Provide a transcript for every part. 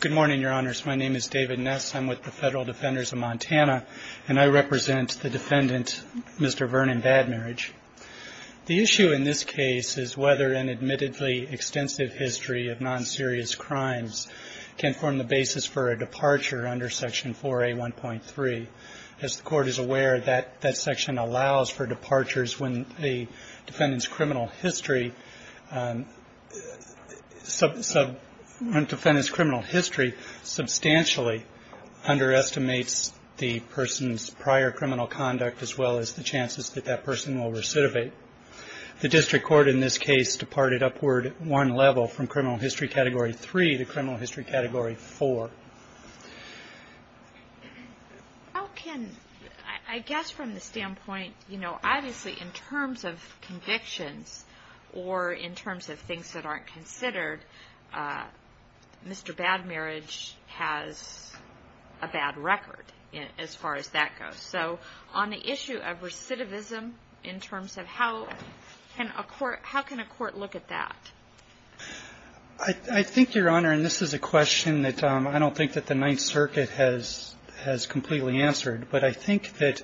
Good morning, Your Honors. My name is David Ness. I'm with the Federal Defenders of Montana, and I represent the defendant, Mr. Vernon Bad Marriage. The issue in this case is whether an admittedly extensive history of non-serious crimes can form the basis for a departure under Section 4A1.3. As the Court is aware, that section allows for departures when the defendant's criminal history substantially underestimates the person's prior criminal conduct, as well as the chances that that person will recidivate. The District Court in this case departed upward one level from Criminal History Category 3 to Criminal History Category 4. How can, I guess from the standpoint, you know, obviously in terms of convictions or in terms of things that aren't considered, Mr. Bad Marriage has a bad record as far as that goes. So on the issue of recidivism in terms of how can a court look at that? I think, Your Honor, and this is a question that I don't think that the Ninth Circuit has completely answered, but I think that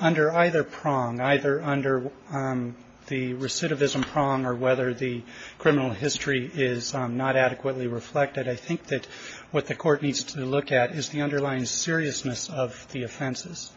under either prong, either under the recidivism prong or whether the criminal history is not adequately reflected, I think that what the Court needs to look at is the underlying seriousness of the offenses.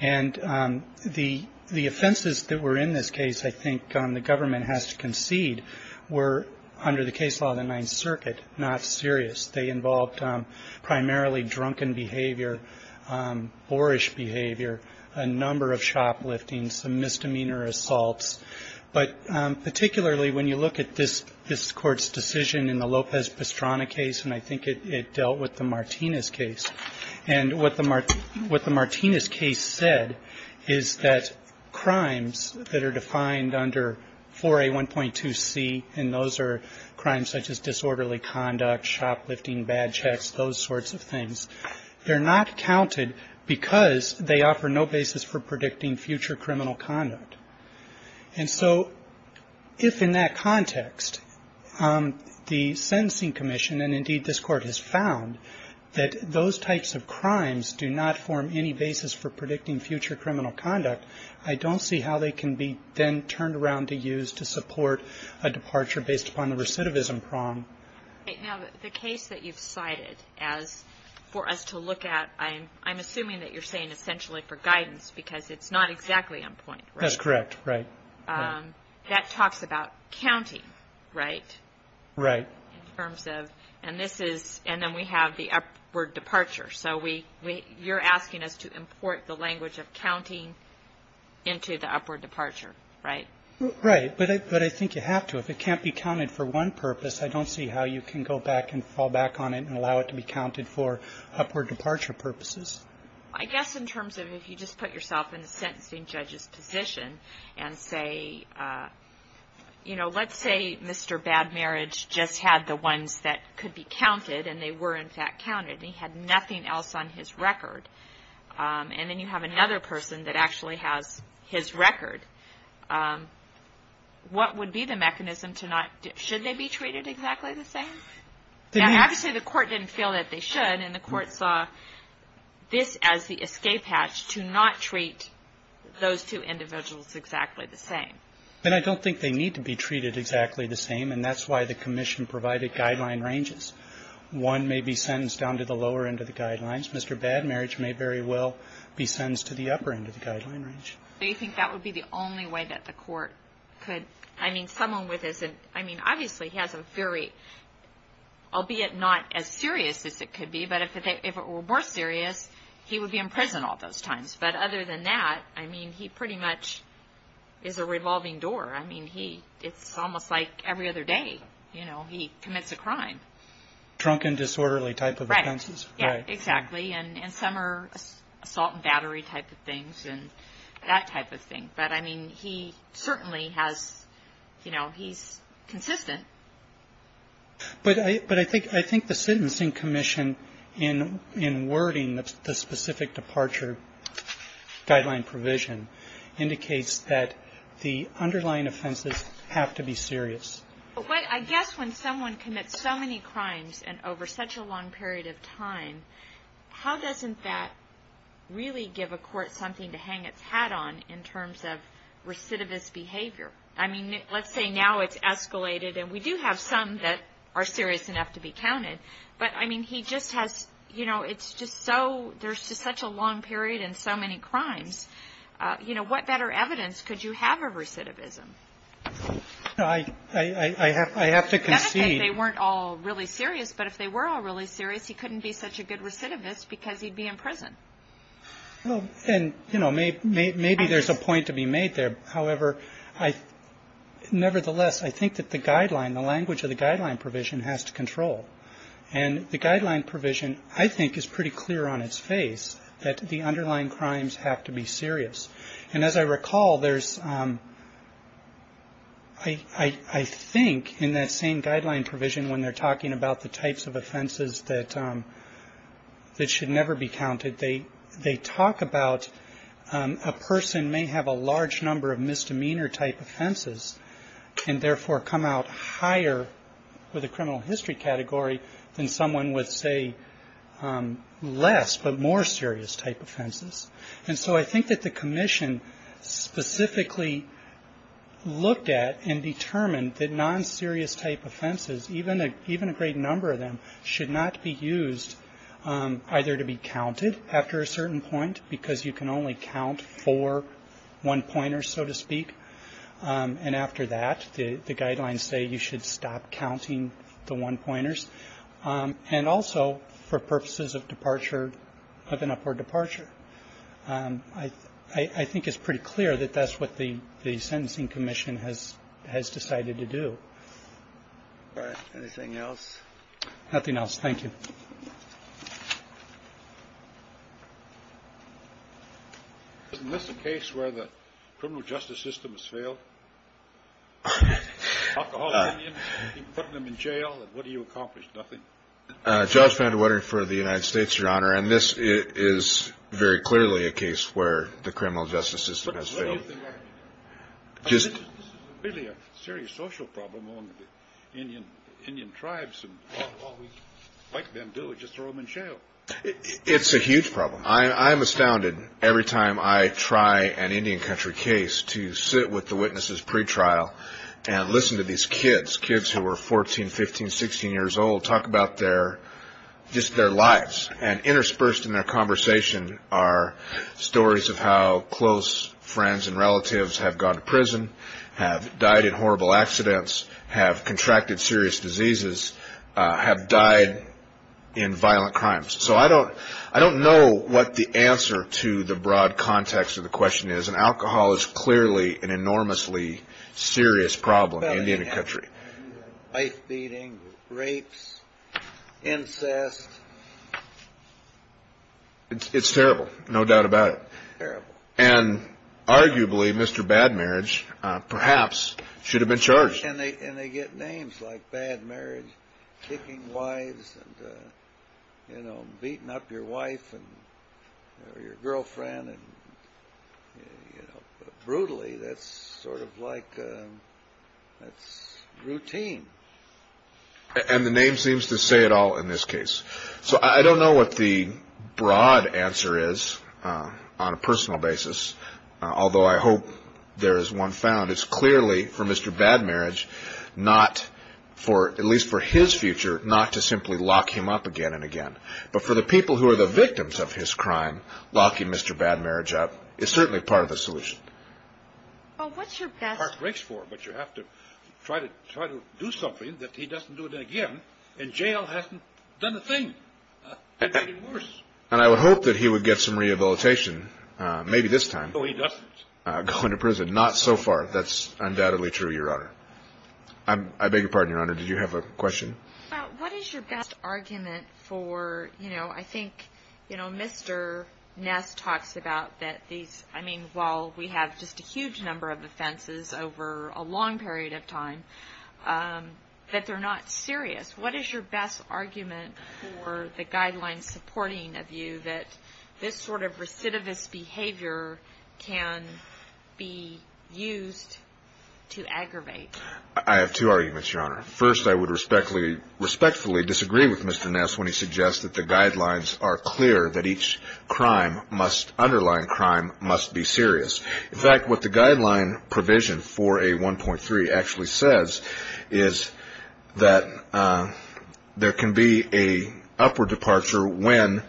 And the offenses that were in this case, I think the government has to concede, were under the case law of the Ninth Circuit not serious. They involved primarily drunken behavior, boorish behavior, a number of shoplifting, some misdemeanor assaults. But particularly when you look at this Court's decision in the Lopez-Pastrana case, and I think it dealt with the Martinez case. And what the Martinez case said is that crimes that are defined under 4A1.2c, and those are crimes such as disorderly conduct, shoplifting, bad checks, those sorts of things, they're not counted because they offer no basis for predicting future criminal conduct. And so if in that context the Sentencing Commission, and indeed this Court has found, that those types of crimes do not form any basis for predicting future criminal conduct, I don't see how they can be then turned around to use to support a departure based upon the recidivism prong. Now, the case that you've cited as for us to look at, I'm assuming that you're saying essentially for guidance, because it's not exactly on point, right? That's correct. Right. That talks about counting, right? Right. In terms of, and this is, and then we have the upward departure. So we, you're asking us to import the language of counting into the upward departure, right? Right. But I think you have to. If it can't be counted for one purpose, I don't see how you can go back and fall back on it and allow it to be counted for upward departure purposes. I guess in terms of if you just put yourself in the sentencing judge's position and say, you know, let's say Mr. Bad Marriage just had the ones that could be counted, and they were in fact counted, and he had nothing else on his record, and then you have another person that actually has his record. What would be the mechanism to not do it? Should they be treated exactly the same? Obviously, the court didn't feel that they should, and the court saw this as the escape hatch to not treat those two individuals exactly the same. And I don't think they need to be treated exactly the same, and that's why the commission provided guideline ranges. One may be sentenced down to the lower end of the guidelines. Mr. Bad Marriage may very well be sentenced to the upper end of the guideline range. Do you think that would be the only way that the court could, I mean, someone with his, I mean, obviously he has a very, albeit not as serious as it could be, but if it were more serious, he would be in prison all those times. But other than that, I mean, he pretty much is a revolving door. I mean, it's almost like every other day, you know, he commits a crime. Drunken, disorderly type of offenses. Yeah, exactly. And some are assault and battery type of things and that type of thing. But, I mean, he certainly has, you know, he's consistent. But I think the sentencing commission in wording the specific departure guideline provision indicates that the underlying offenses have to be serious. But I guess when someone commits so many crimes and over such a long period of time, how doesn't that really give a court something to hang its hat on in terms of recidivist behavior? I mean, let's say now it's escalated and we do have some that are serious enough to be counted. But, I mean, he just has, you know, it's just so there's just such a long period and so many crimes. You know, what better evidence could you have of recidivism? No, I have to concede. They weren't all really serious, but if they were all really serious, he couldn't be such a good recidivist because he'd be in prison. Well, and, you know, maybe there's a point to be made there. However, nevertheless, I think that the guideline, the language of the guideline provision has to control. And the guideline provision, I think, is pretty clear on its face that the underlying crimes have to be serious. And as I recall, there's I think in that same guideline provision, when they're talking about the types of offenses that should never be counted, they talk about a person may have a large number of misdemeanor type offenses and therefore come out higher with a criminal history category than someone would say less, but more serious type offenses. And so I think that the commission specifically looked at and determined that non-serious type offenses, even a great number of them, should not be used either to be counted after a certain point, because you can only count four one-pointers, so to speak, and after that the guidelines say you should stop counting the one-pointers, and also for purposes of departure, of an upward departure. I think it's pretty clear that that's what the sentencing commission has decided to do. Anything else? Nothing else. Thank you. Isn't this a case where the criminal justice system has failed? Alcoholic Indians, putting them in jail, and what do you accomplish? Nothing. Judge Van de Wettering for the United States, Your Honor, and this is very clearly a case where the criminal justice system has failed. What do you think that means? It's really a serious social problem among the Indian tribes, and all we like them to do is just throw them in jail. It's a huge problem. I'm astounded every time I try an Indian country case to sit with the witnesses pretrial and listen to these kids, kids who are 14, 15, 16 years old, talk about their lives, and interspersed in their conversation are stories of how close friends and relatives have gone to prison, have died in horrible accidents, have contracted serious diseases, have died in violent crimes. So I don't know what the answer to the broad context of the question is, and alcohol is clearly an enormously serious problem in the Indian country. Life-beating, rapes, incest. It's terrible, no doubt about it. Terrible. And arguably, Mr. Bad Marriage perhaps should have been charged. And they get names like Bad Marriage, kicking wives, beating up your wife or your girlfriend. Brutally, that's sort of like routine. And the name seems to say it all in this case. So I don't know what the broad answer is on a personal basis, although I hope there is one found. But it's clearly, for Mr. Bad Marriage, not for, at least for his future, not to simply lock him up again and again. But for the people who are the victims of his crime, locking Mr. Bad Marriage up is certainly part of the solution. Well, what's your best? But you have to try to do something that he doesn't do it again, and jail hasn't done a thing. And I would hope that he would get some rehabilitation, maybe this time. So he doesn't? Going to prison? Not so far. That's undoubtedly true, Your Honor. I beg your pardon, Your Honor. Did you have a question? What is your best argument for, you know, I think, you know, Mr. Ness talks about that these, I mean, while we have just a huge number of offenses over a long period of time, that they're not serious. What is your best argument for the guidelines supporting a view that this sort of recidivist behavior can be used to aggravate? I have two arguments, Your Honor. First, I would respectfully disagree with Mr. Ness when he suggests that the guidelines are clear, that each crime must, underlying crime, must be serious. In fact, what the guideline provision for A1.3 actually says is that there can be an upward departure when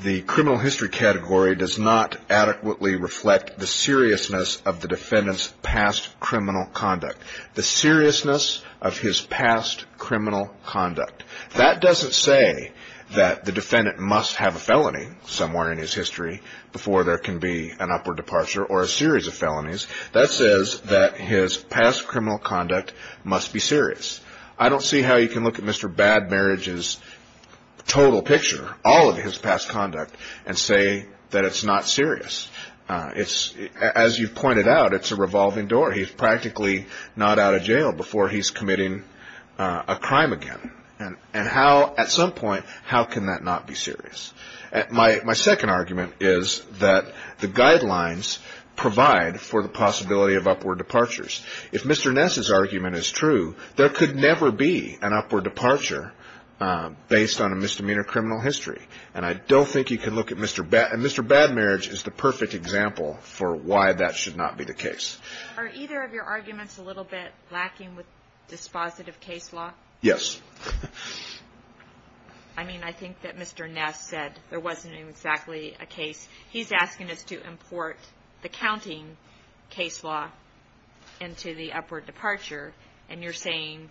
the criminal history category does not adequately reflect the seriousness of the defendant's past criminal conduct, the seriousness of his past criminal conduct. That doesn't say that the defendant must have a felony somewhere in his history before there can be an upward departure or a series of felonies. That says that his past criminal conduct must be serious. I don't see how you can look at Mr. Bad Marriage's total picture, all of his past conduct, and say that it's not serious. It's, as you pointed out, it's a revolving door. He's practically not out of jail before he's committing a crime again. And how, at some point, how can that not be serious? My second argument is that the guidelines provide for the possibility of upward departures. If Mr. Ness's argument is true, there could never be an upward departure based on a misdemeanor criminal history. And I don't think you can look at Mr. Bad Marriage. And Mr. Bad Marriage is the perfect example for why that should not be the case. Are either of your arguments a little bit lacking with dispositive case law? Yes. I mean, I think that Mr. Ness said there wasn't exactly a case. He's asking us to import the counting case law into the upward departure, and you're saying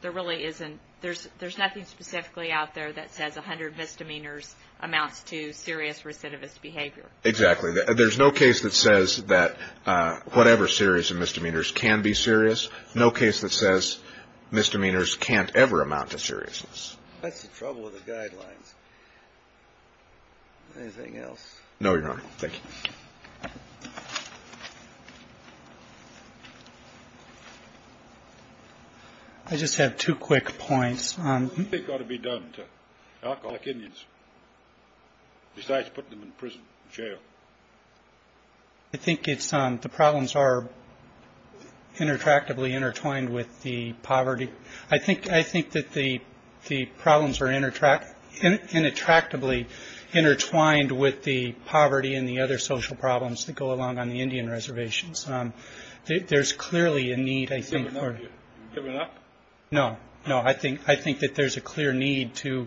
there really isn't, there's nothing specifically out there that says 100 misdemeanors amounts to serious recidivist behavior. Exactly. There's no case that says that whatever series of misdemeanors can be serious. There's no case that says misdemeanors can't ever amount to seriousness. That's the trouble with the guidelines. Anything else? No, Your Honor. Thank you. I just have two quick points. What do you think ought to be done to alcoholic Indians besides putting them in prison, jail? I think it's the problems are interactively intertwined with the poverty. I think I think that the the problems are interact and attractively intertwined with the poverty and the other social problems that go along on the Indian reservations. There's clearly a need, I think. No, no. I think I think that there's a clear need to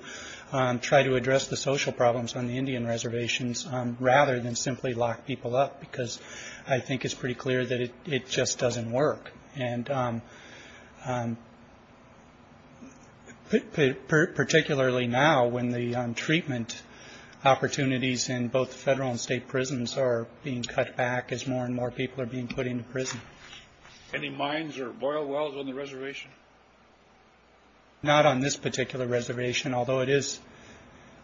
try to address the social problems on the Indian reservations, rather than simply lock people up, because I think it's pretty clear that it just doesn't work. And particularly now, when the treatment opportunities in both federal and state prisons are being cut back as more and more people are being put into prison. Any mines or boil wells on the reservation? Not on this particular reservation, although it is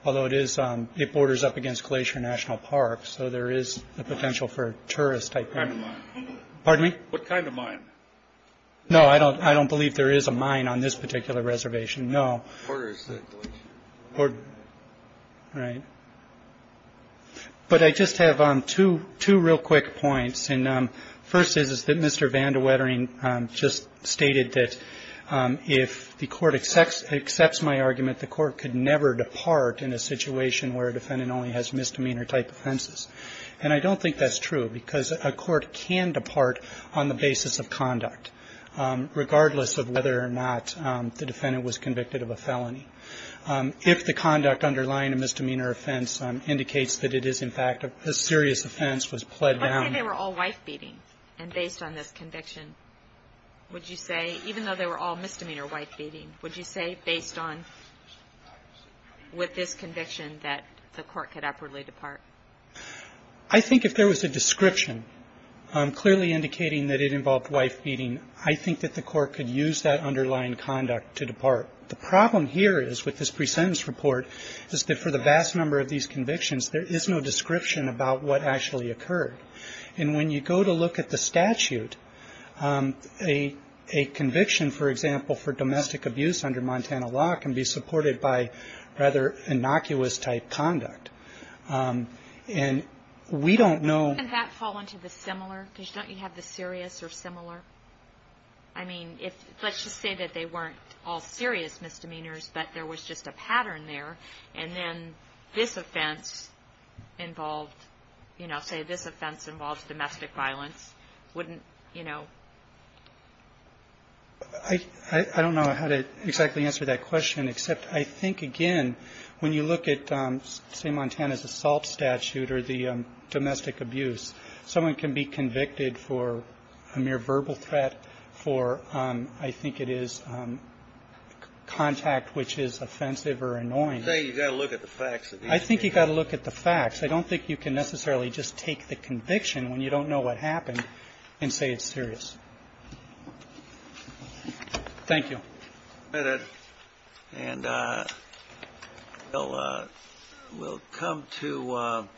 although it is it borders up against Glacier National Park. So there is the potential for tourists. Pardon me. What kind of mine? No, I don't. I don't believe there is a mine on this particular reservation. No. Right. But I just have two two real quick points. And first is that Mr. Vandewettering just stated that if the court accepts accepts my argument, the court could never depart in a situation where a defendant only has misdemeanor type offenses. And I don't think that's true because a court can depart on the basis of conduct, regardless of whether or not the defendant was convicted of a felony. If the conduct underlying a misdemeanor offense indicates that it is, in fact, a serious offense was pled down. They were all wife beating. And based on this conviction, would you say, even though they were all misdemeanor wife beating, would you say based on with this conviction that the court could upwardly depart? I think if there was a description clearly indicating that it involved wife beating, I think that the court could use that underlying conduct to depart. The problem here is with this presentence report is that for the vast number of these convictions, there is no description about what actually occurred. And when you go to look at the statute, a conviction, for example, for domestic abuse under Montana law can be supported by rather innocuous type conduct. And we don't know. And that fall into the similar. Don't you have the serious or similar? I mean, let's just say that they weren't all serious misdemeanors, but there was just a pattern there. And then this offense involved, you know, say this offense involves domestic violence. Wouldn't, you know. I don't know how to exactly answer that question, except I think, again, when you look at, say, Montana's assault statute or the domestic abuse, someone can be convicted for a mere verbal threat for, I think it is, contact which is offensive or annoying. You've got to look at the facts. I think you've got to look at the facts. I don't think you can necessarily just take the conviction when you don't know what happened and say it's serious. Thank you. And we'll come to.